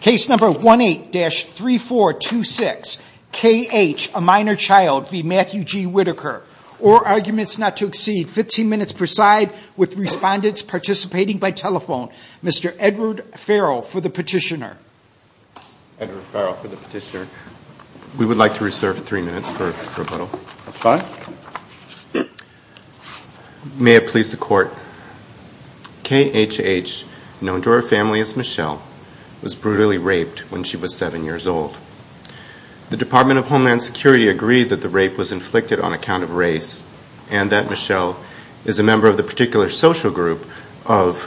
Case number 18-3426 K H A minor child v. Matthew G Whitaker. Or arguments not to exceed 15 minutes per side with respondents participating by telephone. Mr. Edward Farrell for the petitioner. We would like to reserve three minutes for was brutally raped when she was seven years old. The Department of Homeland Security agreed that the rape was inflicted on account of race, and that Michelle is a member of the particular social group of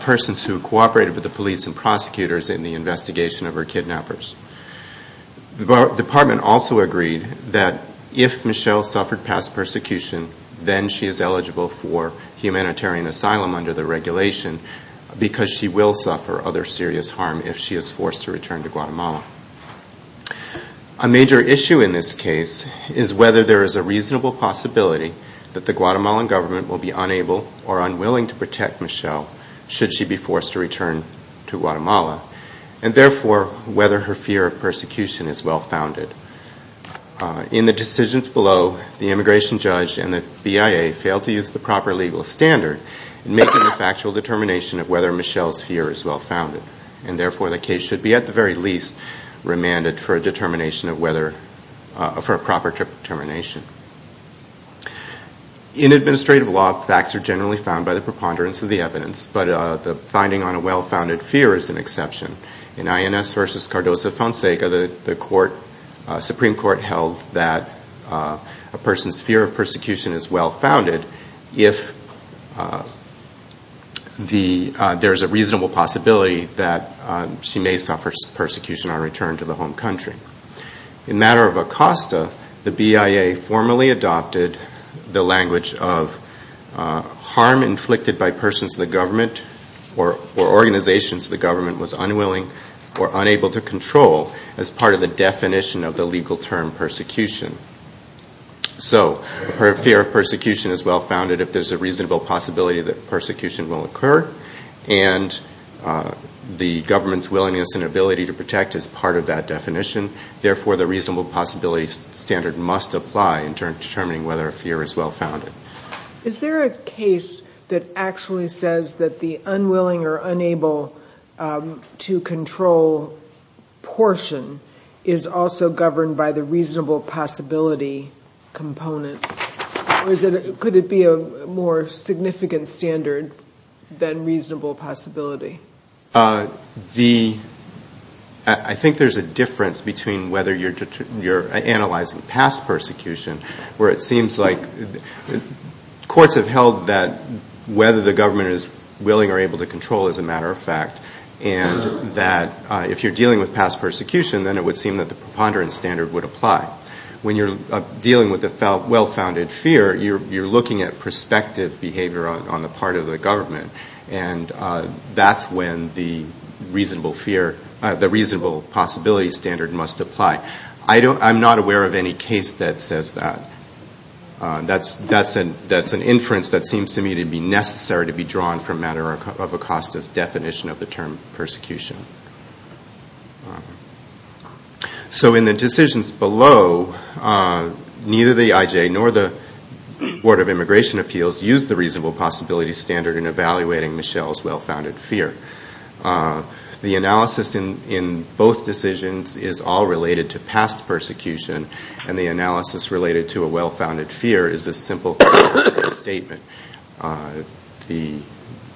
persons who cooperated with the police and prosecutors in the investigation of her kidnappers. The Department also agreed that if Michelle suffered past persecution, then she is eligible for humanitarian asylum under the regulation because she will suffer other serious harm if she is forced to return to Guatemala. A major issue in this case is whether there is a reasonable possibility that the Guatemalan government will be unable or unwilling to protect Michelle should she be forced to return to Guatemala. And therefore, whether her fear of persecution is well founded. In the decisions below, the immigration judge and the BIA failed to use the proper legal standard in making a factual determination of whether Michelle's fear is well founded. And therefore, the case should be at the very least remanded for a proper determination. In administrative law, facts are generally found by the preponderance of the evidence, but the finding on a well-founded fear is an exception. In INS v. Cardoso Fonseca, the there is a reasonable possibility that she may suffer persecution on return to the home country. In matter of Acosta, the BIA formally adopted the language of harm inflicted by persons of the government or organizations of the government was unwilling or unable to control as part of the definition of the legal term persecution. So, her fear of persecution is well founded if there is a reasonable possibility that persecution will occur. And the government's willingness and ability to protect is part of that definition. Therefore, the reasonable possibility standard must apply in determining whether a fear is well founded. Is there a case that actually says that the unwilling or unable to control portion is also governed by the reasonable possibility component? Or could it be a more significant standard than reasonable possibility? I think there's a difference between whether you're analyzing past persecution, where it seems like courts have held that whether the government is willing or able to control is a matter of fact. And that if you're dealing with past persecution, then it would seem that the preponderance standard would apply. When you're dealing with a well-founded fear, you're looking at prospective behavior on the part of the government. And that's when the reasonable fear, the reasonable possibility standard must apply. I'm not aware of any case that says that. That's an inference that seems to me to be necessary to be drawn from matter of Acosta's definition of the term persecution. So in the decisions below, neither the IJ nor the Board of Immigration Appeals used the reasonable possibility standard in evaluating Michelle's well-founded fear. The analysis in both decisions is all related to past persecution. And the analysis related to a well-founded fear is a simple statement. The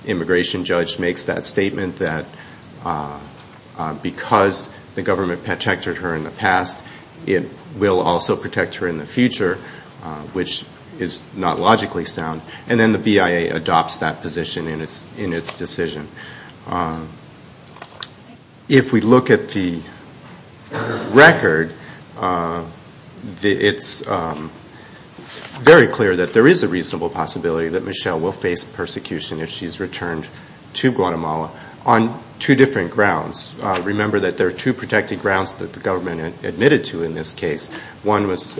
immigration judge makes that statement that because the government protected her in the past, it will also protect her in the future, which is not logically sound. And then the BIA adopts that position in its decision. If we look at the record, it's very clear that there is a reasonable possibility that Michelle will face persecution if she's returned to Guatemala on two different grounds. Remember that there are two protected grounds that the government admitted to in this case. One was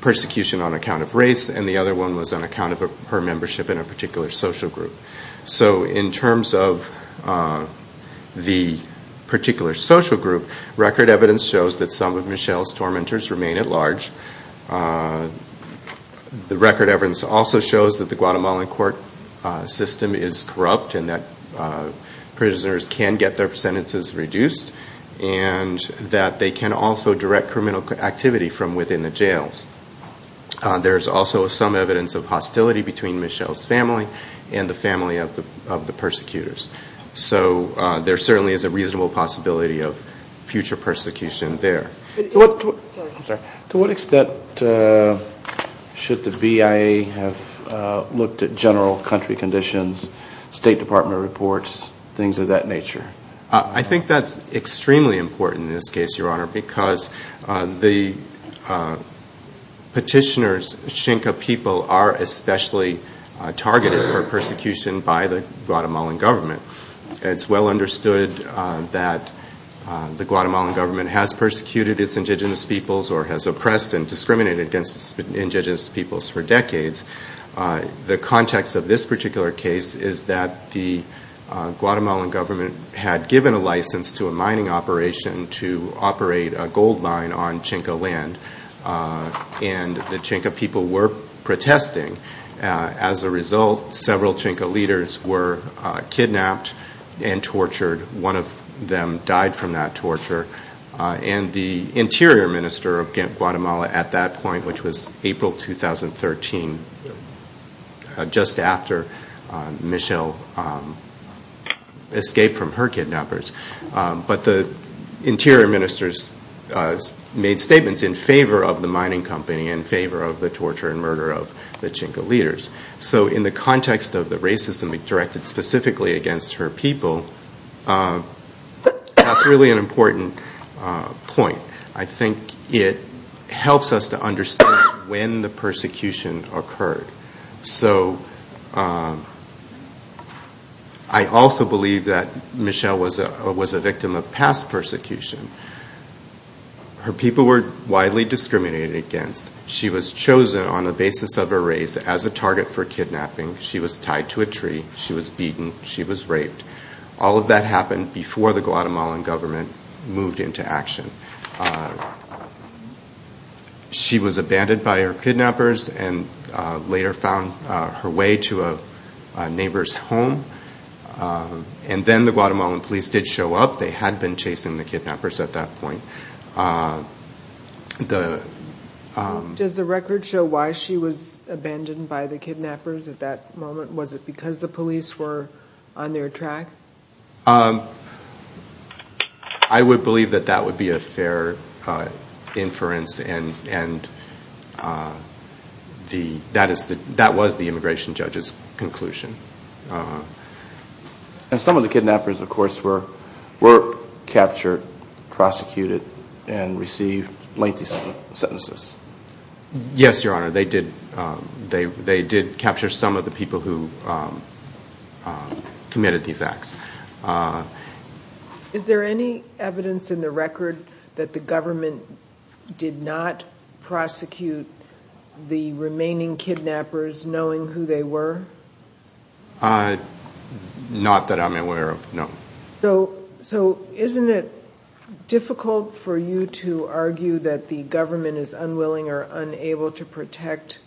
persecution on account of race, and the other one was on account of her membership in a particular social group. So in terms of the particular social group, record evidence shows that some of Michelle's tormentors remain at large. The record evidence also shows that the Guatemalan court system is corrupt and that prisoners can get their sentences reduced, and that they can also direct criminal activity from within the jails. There is also some evidence of hostility between Michelle's family and the family of the persecutors. So there certainly is a reasonable possibility of future persecution there. To what extent should the BIA have looked at general country conditions, State Department reports, things of that nature? I think that's extremely important in this case, Your Honor, because the petitioners, Chinca people, are especially targeted for persecution by the Guatemalan government. It's well understood that the Guatemalan government has persecuted its indigenous peoples or has oppressed and discriminated against indigenous peoples for decades. The context of this particular case is that the Guatemalan government had given a license to a mining operation to operate a gold mine on Chinca land, and the Chinca people were protesting. As a result, several Chinca leaders were kidnapped and tortured. One of them died from that torture, and the Interior Minister of Guatemala at that point, which was April 2013, just after Michelle escaped from her kidnappers. But the Interior Minister made statements in favor of the mining company and in favor of the torture and murder of the Chinca leaders. So in the context of the racism directed specifically against her people, that's really an important point. I think it helps us to understand when the persecution occurred. So I also believe that Michelle was a victim of past persecution. Her people were widely discriminated against. She was chosen on the basis of her race as a target for kidnapping. She was tied to a tree. She was beaten. She was raped. All of that happened before the Guatemalan government moved into action. She was abandoned by her kidnappers, and later found her way to a neighbor's home. Then the Guatemalan police did show up. They had been chasing the kidnappers at that point. Does the record show why she was abandoned by the kidnappers at that moment? Was it because the police were on their track? I would believe that that would be a fair inference, and that is the case. That was the immigration judge's conclusion. Some of the kidnappers, of course, were captured, prosecuted, and received lengthy sentences. Yes, Your Honor. They did capture some of the people who committed these acts. Is there any evidence in the record that the government did not prosecute the remaining kidnappers, knowing who they were? Not that I'm aware of, no. Isn't it difficult for you to argue that the government is unwilling or unable to protect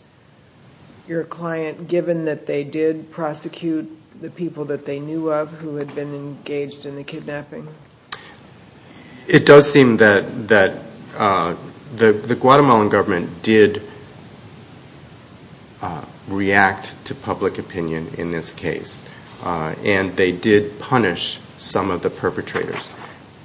your client, given that they did prosecute the people that they knew of who had been engaged in the kidnapping? It does seem that the Guatemalan government did react to public opinion in this case, and they did punish some of the perpetrators.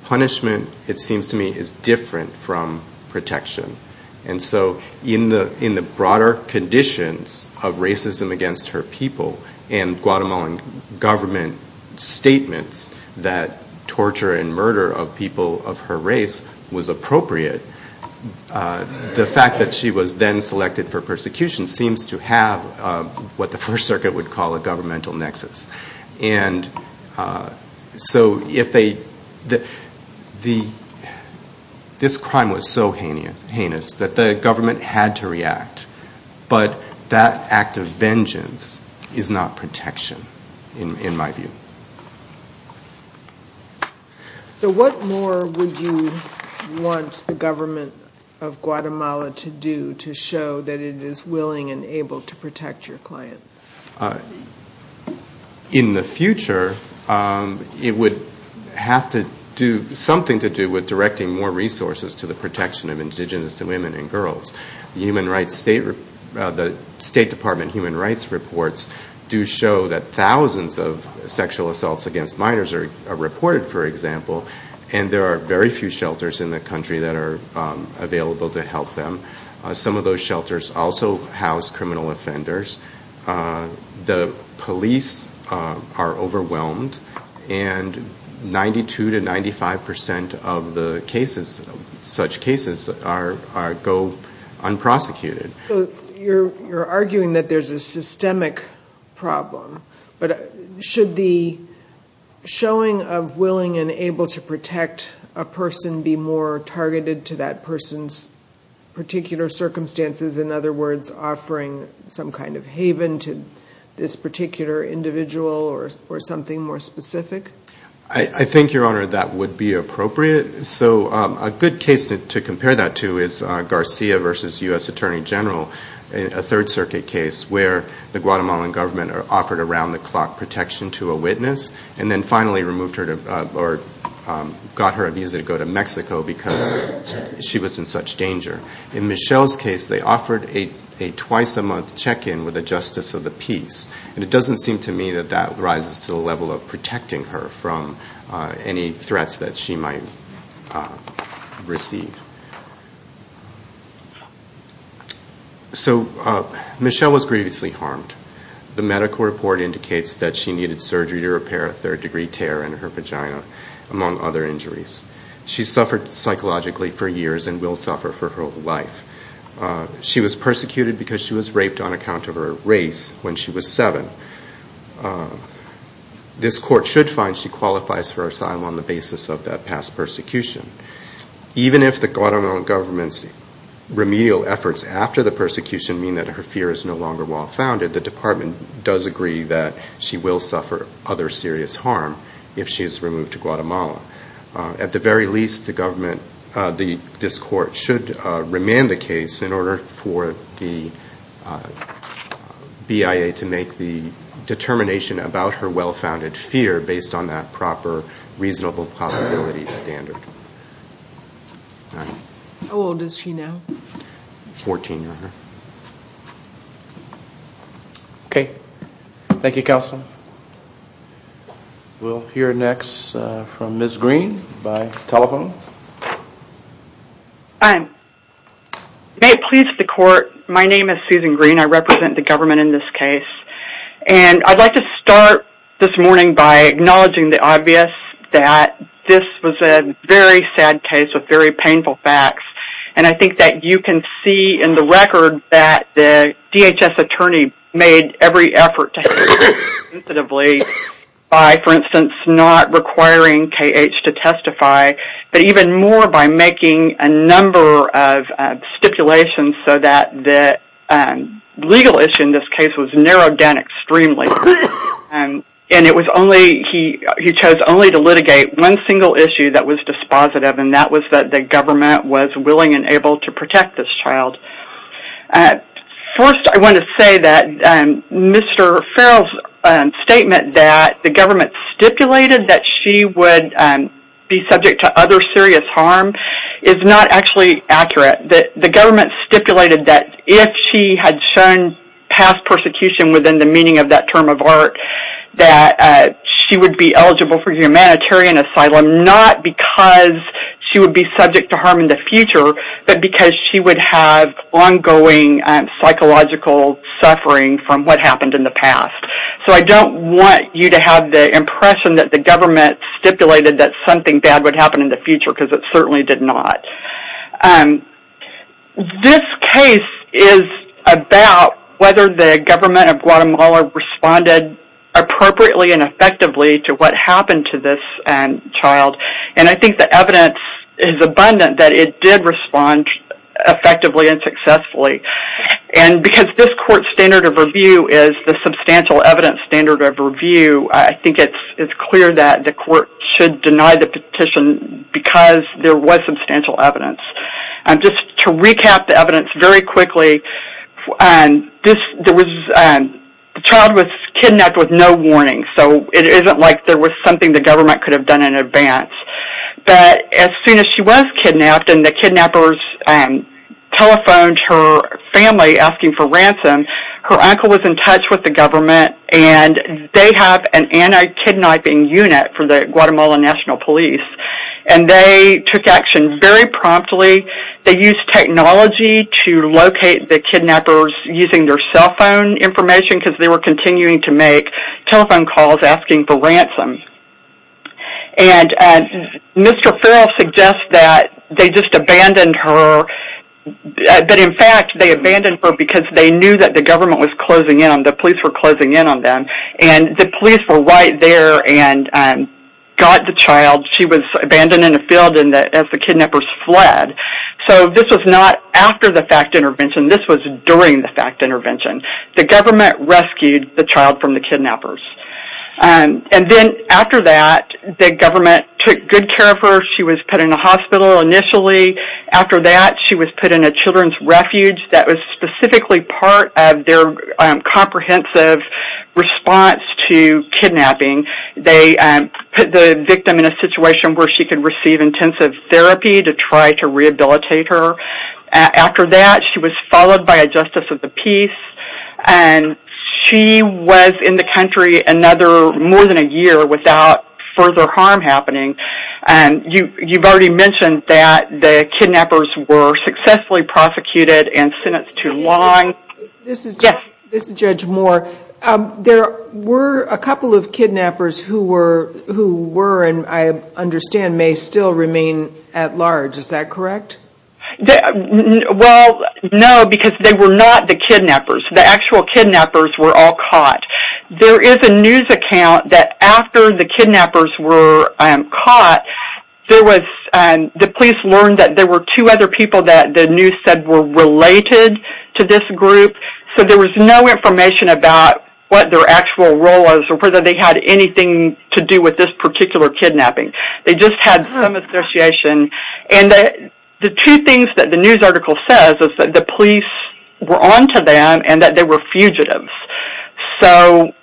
Punishment, it seems to me, is different from protection. In the broader conditions of racism against her people and Guatemalan government statements that torture and murder of people of her race was appropriate, the fact that she was then selected for persecution seems to have what the First Circuit would call a governmental nexus. This crime was so heinous that the government had to react, but that act of vengeance is not protection, in my view. What more would you want the government of Guatemala to do to show that it is willing and able to protect your client? In the future, it would have something to do with directing more resources to the protection of indigenous women and girls. The State Department Human Rights reports do show that thousands of sexual assaults against minors are reported, for example, and there are very few shelters in the country that are available to help them. Some of those shelters also house criminal offenders. The police are overwhelmed, and 92 to 95 percent of such cases go unprosecuted. You're arguing that there's a systemic problem, but should the showing of willing and able to protect a person be more targeted to that person's particular circumstances, in other words, offering some kind of haven to this particular individual or something more specific? I think, Your Honor, that would be appropriate. A good case to compare that to is Garcia v. U.S. Attorney General, a Third Circuit case where the Guatemalan government offered around-the-clock protection to a witness and then finally got her visa to go to Mexico because she was in such danger. In Michelle's case, they offered a twice-a-month check-in with a justice of the peace. It doesn't seem to me that that rises to the level of protecting her from any threats that she might receive. Michelle was grievously harmed. The medical report indicates that she needed surgery to repair a third-degree tear in her vagina, among other injuries. She suffered psychologically for years and will suffer for her whole life. She was persecuted because she was raped on the spot. This Court should find she qualifies for asylum on the basis of that past persecution. Even if the Guatemalan government's remedial efforts after the persecution mean that her fear is no longer well-founded, the Department does agree that she will suffer other serious harm if she is removed to Guatemala. At the very least, this Court should remand the case in order for the BIA to make the determination about her well-founded fear based on that proper reasonable possibility standard. How old is she now? Fourteen. Okay. Thank you, Counsel. We'll hear next from Ms. Green by telephone. Hi. May it please the Court, my name is Susan Green. I represent the government in this case. And I'd like to start this morning by acknowledging the obvious that this was a very sad case with very painful facts. And I think that you can see in the record that the DHS attorney made every effort to handle this sensitively by, for instance, not requiring KH to testify, but even more by making a number of stipulations so that the legal issue in this case was narrowed down extremely. And it was only, he chose only to litigate one single issue that was dispositive, and that was that the government was willing and able to protect this child. First, I want to say that Mr. Farrell's statement that the government stipulated that she would be subject to other serious harm is not actually accurate. The government stipulated that if she had shown past persecution within the meaning of that term of art, that she would be eligible for humanitarian asylum, not because she would be subject to harm in the future, but because she would have ongoing psychological suffering from what happened in the past. So I don't want you to have the impression that the government stipulated that something bad would happen in the future, because it certainly did not. This case is about whether the government of Guatemala responded appropriately and effectively to what happened to this child. And I think the evidence is abundant that it did respond effectively and successfully. And because this court's standard of review is the substantial evidence standard of review, I think it's clear that the court should deny the petition because there was substantial evidence. Just to recap the evidence very quickly, the child was kidnapped with no warning, so it isn't like there was something the government could have done in advance. But as soon as she was kidnapped and the kidnappers telephoned her family asking for ransom, her uncle was in touch with the government and they have an anti-kidnapping unit for the Guatemala National Police. And they took action very promptly. They used technology to locate the kidnappers using their cell phone information because they were continuing to make telephone calls asking for ransom. And Mr. Farrell suggests that they just abandoned her, but in fact they abandoned her because they knew that the government was closing in on them, the police were closing in on them. And the police were right there and got the child. She was abandoned in the field as the kidnappers fled. So this was not after the FACT intervention, this was during the kidnapping of the kidnappers. And then after that, the government took good care of her. She was put in a hospital initially. After that, she was put in a children's refuge that was specifically part of their comprehensive response to kidnapping. They put the victim in a situation where she could receive intensive therapy to try to rehabilitate her. After that, she was followed by a Justice of the Peace. And she was in the country another more than a year without further harm happening. You've already mentioned that the kidnappers were successfully prosecuted and sentenced to long. This is Judge Moore. There were a couple of kidnappers who were and I understand may still remain at large, is that correct? Well, no, because they were not the kidnappers. The actual kidnappers were all caught. There is a news account that after the kidnappers were caught, the police learned that there were two other people that the news said were related to this group. So there was no information about what their actual role was or whether they had anything to do with this particular kidnapping. They just had some association. The two things that the news article says is that the police were on to them and that they were fugitives. The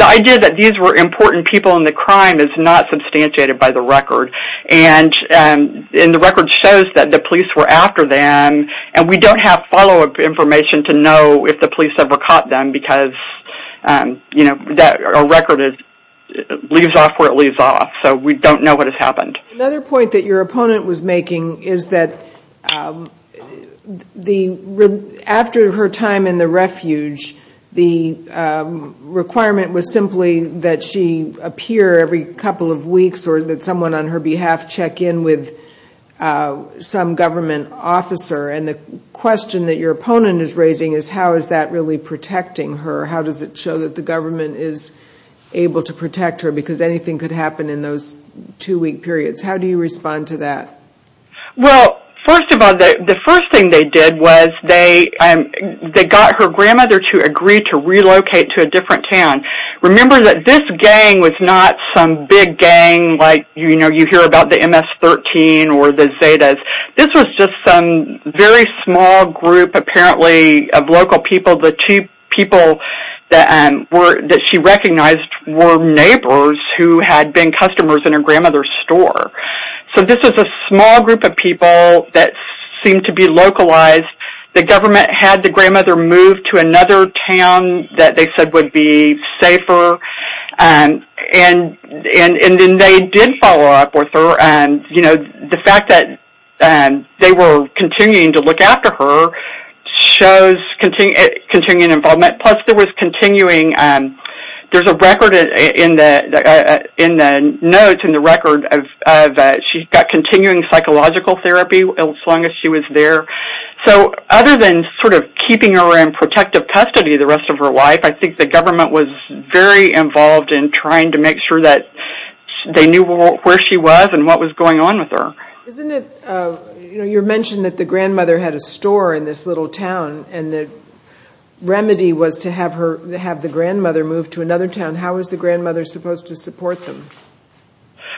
idea that these were important people in the crime is not substantiated by the record. The record shows that the police were after them and we don't have follow-up information to know if the police ever caught them because a record leaves off where it leaves off. So we don't know what has happened. Another point that your opponent was making is that after her time in the refuge, the requirement was simply that she appear every couple of weeks or that someone on her behalf check in with some government officer. The question that your opponent is raising is how is that really protecting her? How does it show that the government is able to protect her because anything could happen in those two week periods? How do you respond to that? Well, first of all, the first thing they did was they got her grandmother to agree to relocate to a different town. Remember that this gang was not some big gang like you hear about the MS-13 or the Zetas. This was just some very small group apparently of local people. The two people that she recognized were neighbors who had been customers in her grandmother's store. So this was a small group of people that seemed to be localized. The government had the grandmother moved to another town that they said would be safer and then they did follow up with her. You know, the fact that they were continuing to look after her shows continued involvement. Plus there was continuing, there's a record in the notes, in the record, that she got continuing psychological therapy as long as she was there. So other than sort of keeping her in protective custody the rest of her life, I think the government was very involved in trying to make sure that they knew where she was and what was going on with her. Isn't it, you mentioned that the grandmother had a store in this little town and the remedy was to have the grandmother move to another town. How was the grandmother supposed to support them?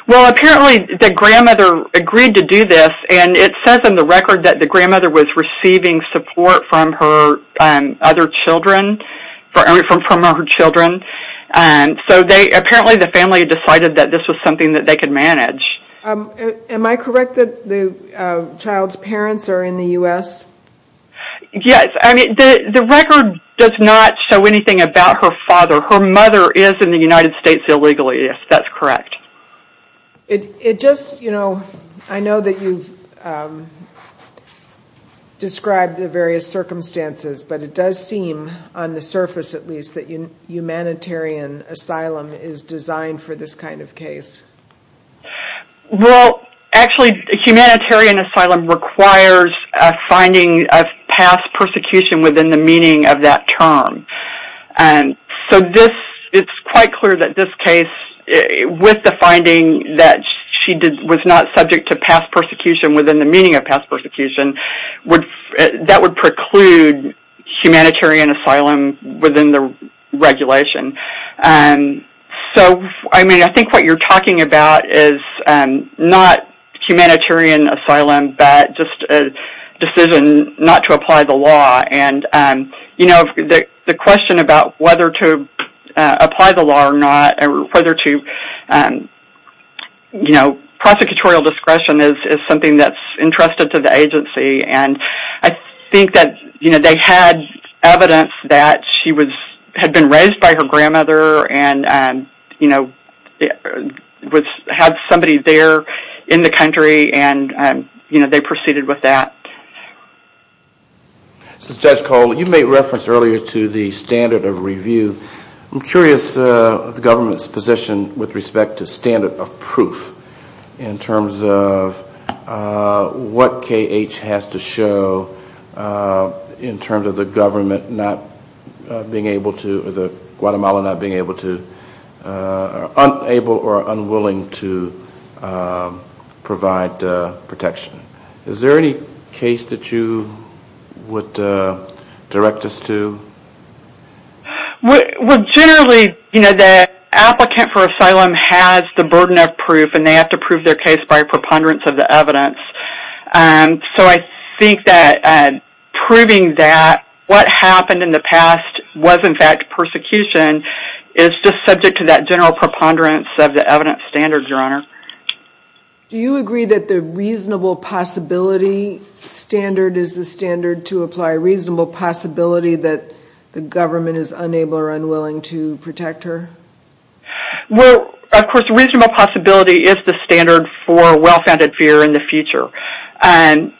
Well, apparently the grandmother agreed to do this and it says in the record that the grandmother was receiving support from her other children, from her children. So apparently the family decided that this was something that they could manage. Am I correct that the child's parents are in the U.S.? Yes, I mean the record does not show anything about her father. Her mother is in the United States illegally, yes, that's correct. It just, you know, I know that you've described the various circumstances, but it does seem on the surface at least that humanitarian asylum is designed for this kind of case. Well, actually humanitarian asylum requires a finding of past persecution within the meaning of that term. So this, it's quite clear that this case, with the finding that she was not subject to past persecution within the meaning of past persecution, that would preclude humanitarian asylum within the regulation. So I mean, I think what you're talking about is not humanitarian asylum, but just a decision not to apply the law and, you know, the question about whether to apply the law or not, whether to, you know, prosecutorial discretion is something that's entrusted to the agency and I think that, you know, they had evidence that she was, had been raised by her grandmother and, you know, had somebody there in the country and, you know, they proceeded with that. This is Judge Cole. You made reference earlier to the standard of review. I'm curious of the government's position with respect to standard of proof in terms of what KH has to show in terms of the government not being able to, or the, Guatemala not being able to, unable or unwilling to provide protection. Is there any case that you, that you would direct us to? Well, generally, you know, the applicant for asylum has the burden of proof and they have to prove their case by a preponderance of the evidence. So I think that proving that what happened in the past was in fact persecution is just subject to that general preponderance of the evidence standard, Your Honor. Do you agree that the reasonable possibility standard is the standard to apply? Reasonable possibility that the government is unable or unwilling to protect her? Well, of course, reasonable possibility is the standard for well-founded fear in the future. And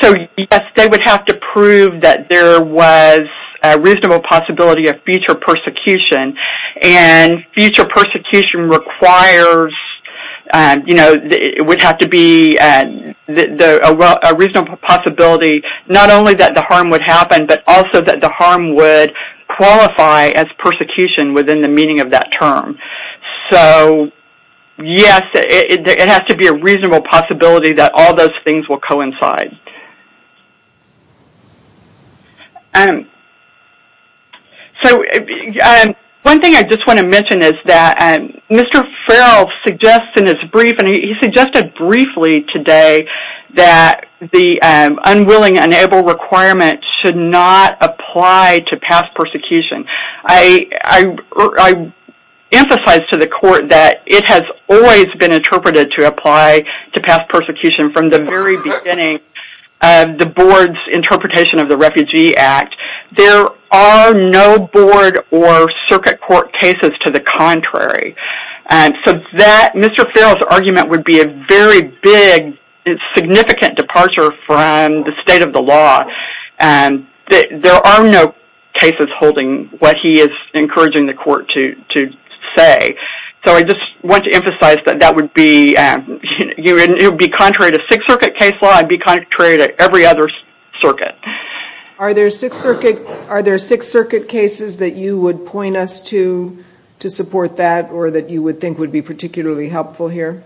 so, yes, they would have to prove that there was a reasonable possibility of future persecution. And future persecution requires, you know, it would have to be a reasonable possibility not only that the harm would happen, but also that the harm would qualify as persecution within the meaning of that term. So, yes, it has to be a reasonable possibility that all those things will coincide. And so, yes, it's a reasonable possibility that... One thing I just want to mention is that Mr. Farrell suggests in his brief, and he suggested briefly today, that the unwilling, unable requirement should not apply to past persecution. I emphasize to the Court that it has always been interpreted to apply to past persecution from the very beginning of the Board's interpretation of the Refugee Act. There are no Board or Circuit Court cases to the contrary. So, Mr. Farrell's argument would be a very big, significant departure from the state of the law. There are no cases holding what he is encouraging the Court to say. So, I just want to emphasize that that would be contrary to Sixth Circuit case law and be contrary to every other circuit. Are there Sixth Circuit cases that you would point us to to support that or that you would think would be particularly helpful here?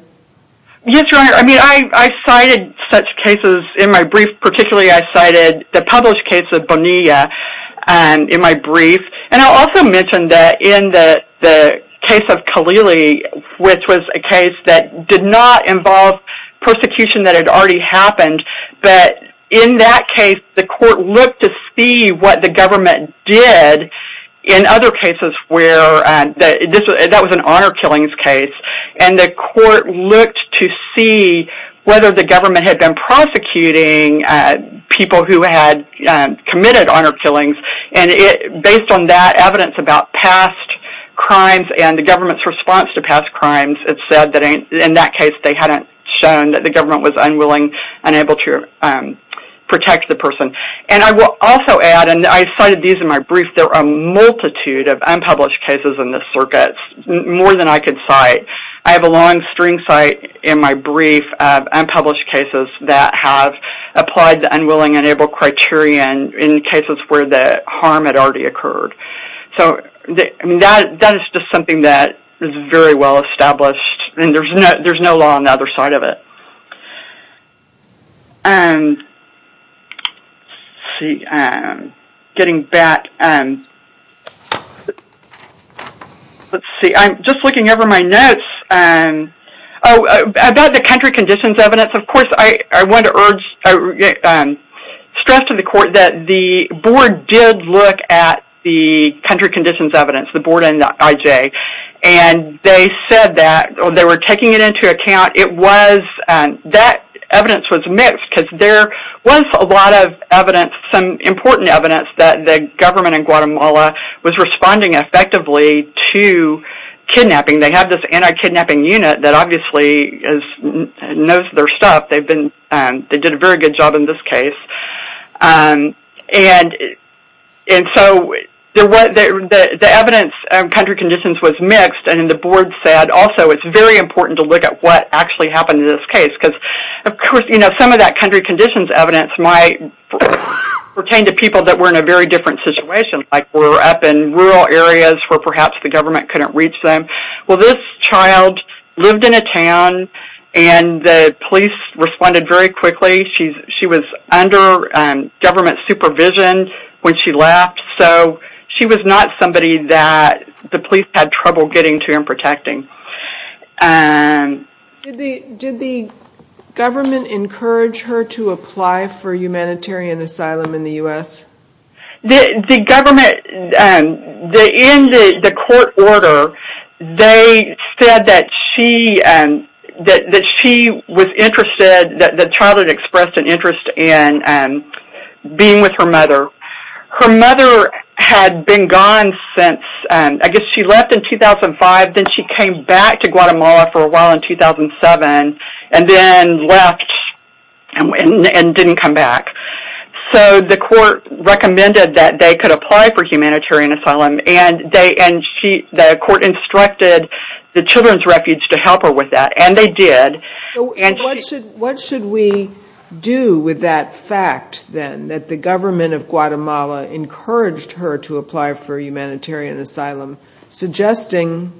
Yes, Your Honor. I cited such cases in my brief. Particularly, I cited the published case of Bonilla in my brief. And I'll also mention that in the case of Kalili, which was a case that did not involve persecution that had already happened. But in that case, the Court looked to see what the government did in other cases where that was an honor killings case. And the Court looked to see whether the government had been prosecuting people who had committed honor killings. And based on that evidence about past crimes and the government's response to past crimes, it's said that in that case, they hadn't shown that the government was unwilling, unable to protect the person. And I will also add, and I cited these in my brief, there are a multitude of unpublished cases in the circuits, more than I could cite. I have a long string cite in my brief of unpublished cases that have applied the unwilling, unable criterion in cases where the harm had already occurred. So that is just something that is very well established, and there's no law on the other side of it. Let's see, I'm just looking over my notes. About the country conditions evidence, of the board in IJ. And they said that, or they were taking it into account, it was, that evidence was mixed, because there was a lot of evidence, some important evidence that the government in Guatemala was responding effectively to kidnapping. They have this anti-kidnapping unit that obviously knows their stuff. They've been, they did a very good job in this case. And so, the evidence of country conditions was mixed, and the board said also it's very important to look at what actually happened in this case. Because, of course, you know, some of that country conditions evidence might pertain to people that were in a very different situation, like were up in rural areas where perhaps the government couldn't reach them. Well, this child lived in a town, and the police responded very quickly. She was under government supervision when she left, so she was not somebody that the police had trouble getting to and protecting. Did the government encourage her to apply for humanitarian asylum in the U.S.? The government, in the court order, they said that she was interested, that the child had expressed an interest in being with her mother. Her mother had been gone since, I guess she left in 2005, then she came back to Guatemala for a while in 2007, and then left and didn't come back. So, the court recommended that they could apply for humanitarian asylum, and the court instructed the Children's Refuge to help her with that, and they did. So, what should we do with that fact, then, that the government of Guatemala encouraged her to apply for humanitarian asylum, suggesting,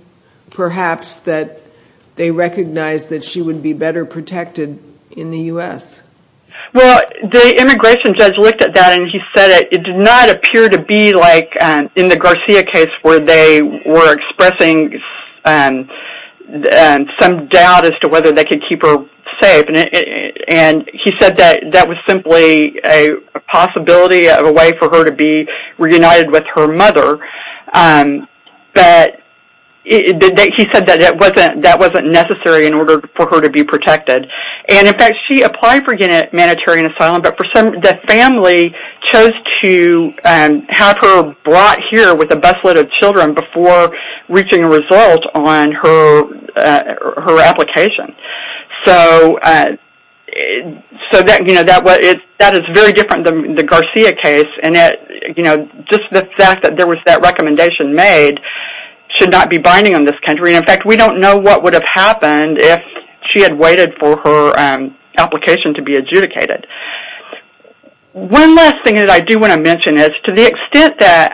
perhaps, that they recognized that she would be better protected in the U.S.? Well, the immigration judge looked at that and he said it did not appear to be like in the Garcia case, where they were expressing some doubt as to whether they could keep her safe, and he said that that was simply a possibility of a way for her to be reunited with her mother. He said that that wasn't necessary in order for her to be protected. And, in fact, she was there with a busload of children before reaching a result on her application. So, that is very different than the Garcia case, and just the fact that there was that recommendation made should not be binding on this country. And, in fact, we don't know what would have happened if she had waited for her application to be adjudicated. One last thing that I do want to mention is, to the extent that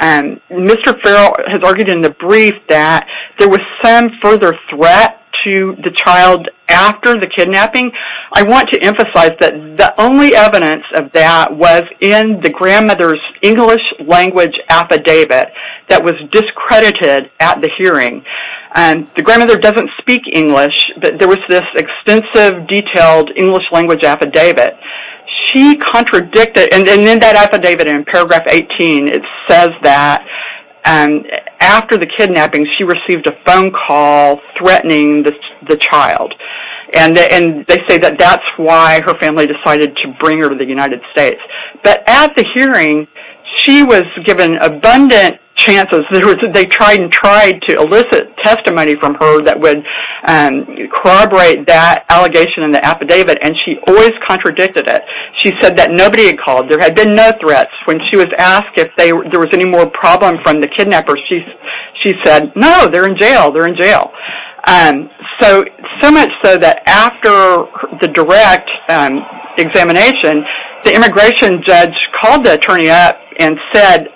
Mr. Farrell has argued in the brief that there was some further threat to the child after the kidnapping, I want to emphasize that the only evidence of that was in the grandmother's English language affidavit that was discredited at the hearing. The grandmother doesn't speak English, but there was this extensive, detailed English language affidavit. She contradicted it, and in that affidavit, in paragraph 18, it says that after the kidnapping she received a phone call threatening the child, and they say that that's why her family decided to bring her to the United States. But, at the hearing, she was given abundant chances. They tried to elicit testimony from her that would corroborate that allegation in the affidavit, and she always contradicted it. She said that nobody had called. There had been no threats. When she was asked if there was any more problem from the kidnappers, she said, no, they're in jail. So much so that after the direct examination, the immigration judge called the attorney up and said,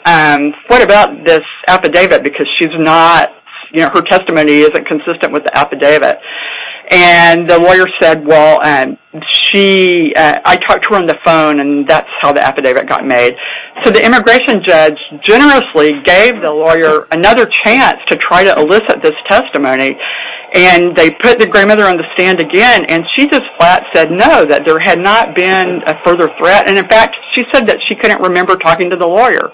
what about this affidavit, because her testimony isn't consistent with the affidavit. The lawyer said, well, I talked to her on the phone, and that's how the affidavit got made. So the immigration judge generously gave the lawyer another chance to try to elicit this testimony, and they put the grandmother on the stand again, and she just flat said no, that there had not been a further threat. In fact, she said that she couldn't remember talking to the lawyer.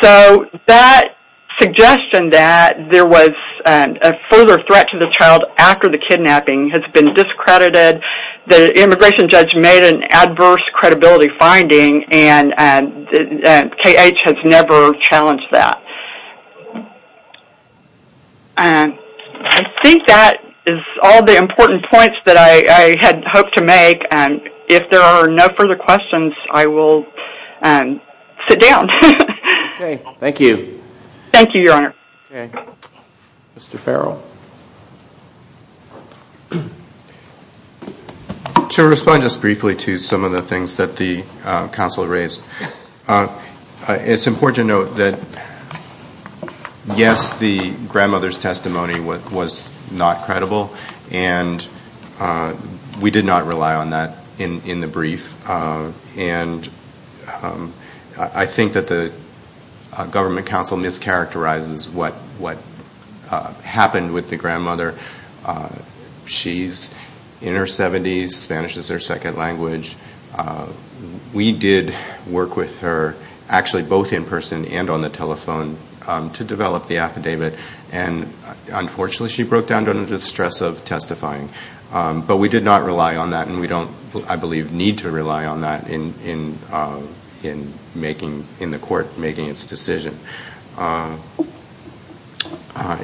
So that suggestion that there was a further threat to the child after the kidnapping has been discredited. The immigration judge made an adverse credibility finding, and KH has never challenged that. I think that is all the important points that I had hoped to make. If there are no further questions, I will sit down. Thank you. Thank you, Your Honor. Mr. Farrell. To respond just briefly to some of the things that the counsel raised, it's important to note that yes, the grandmother's testimony was not credible, and we did not rely on that in the brief. I think that the government counsel mischaracterizes what happened with the grandmother. She's in her 70s, Spanish is her second language. We did work with her, actually both in person and on the telephone, to develop the affidavit, and unfortunately she broke down under the stress of testifying. But we did not rely on that, and we don't, I believe, need to rely on that in the court making its decision.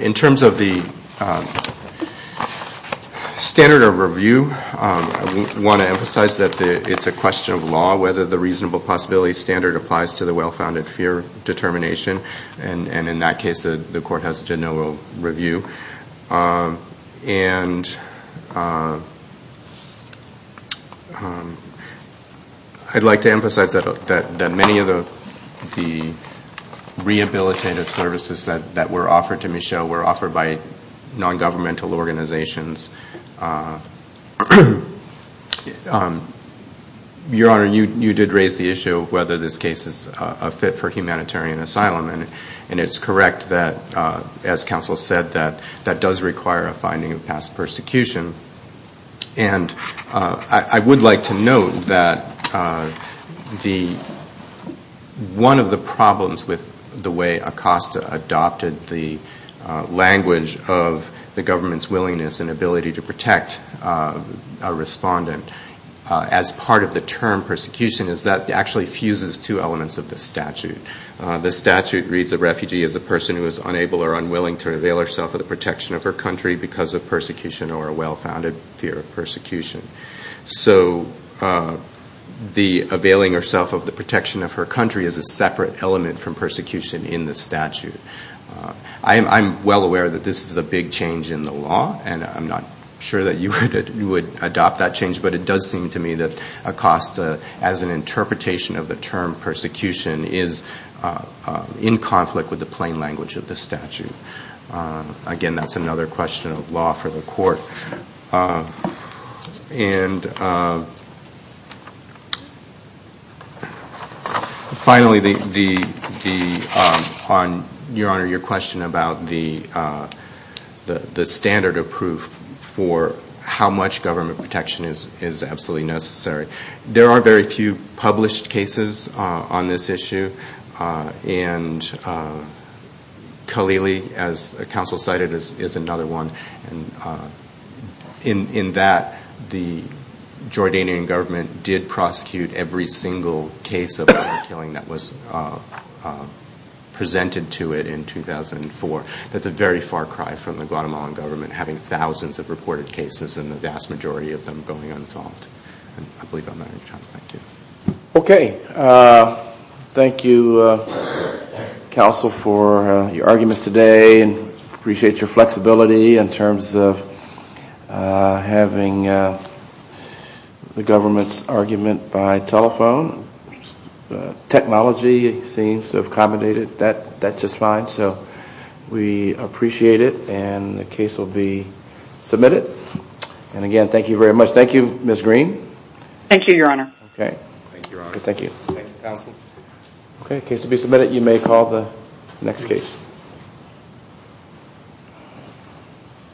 In terms of the standard of review, I want to emphasize that it's a question of law whether the reasonable possibility standard applies to the well-founded fear determination, and in that case, the court has no review. I'd like to emphasize that many of the rehabilitative services that were offered to Michelle were offered by non-governmental organizations. Your Honor, you did raise the issue of whether this case is a fit for humanitarian asylum, and it's correct that, as counsel said, that does require a finding of past persecution. And I would like to note that one of the problems with the way Acosta adopted the language of the government's willingness and ability to pursue asylum is two elements of the statute. The statute reads a refugee as a person who is unable or unwilling to avail herself of the protection of her country because of persecution or a well-founded fear of persecution. So the availing herself of the protection of her country is a separate element from persecution in the statute. I'm well aware that this is a big change in the law, and I'm not sure that you would adopt that change, but it does require a finding of past persecution. Again, that's another question of law for the court. And finally, Your Honor, your question about the standard of proof for how much government protection is absolutely necessary. There are very few published cases on this issue, and Kalili, as counsel cited, is another one. In that, the Jordanian government did prosecute every single case of murder and killing that was presented to it in 2004. That's a very far cry from the Guatemalan government having thousands of reported cases in the vast majority of them going unsolved. I believe I'm not in charge. Thank you. Okay. Thank you, counsel, for your arguments today. I appreciate your flexibility in terms of having the government's argument by telephone. Technology seems to have accommodated that just fine, so we appreciate it, and the case will be submitted. And again, thank you very much. Thank you, Ms. Green. Thank you, Your Honor. Okay. Thank you, counsel. The case will be submitted. You may call the next case.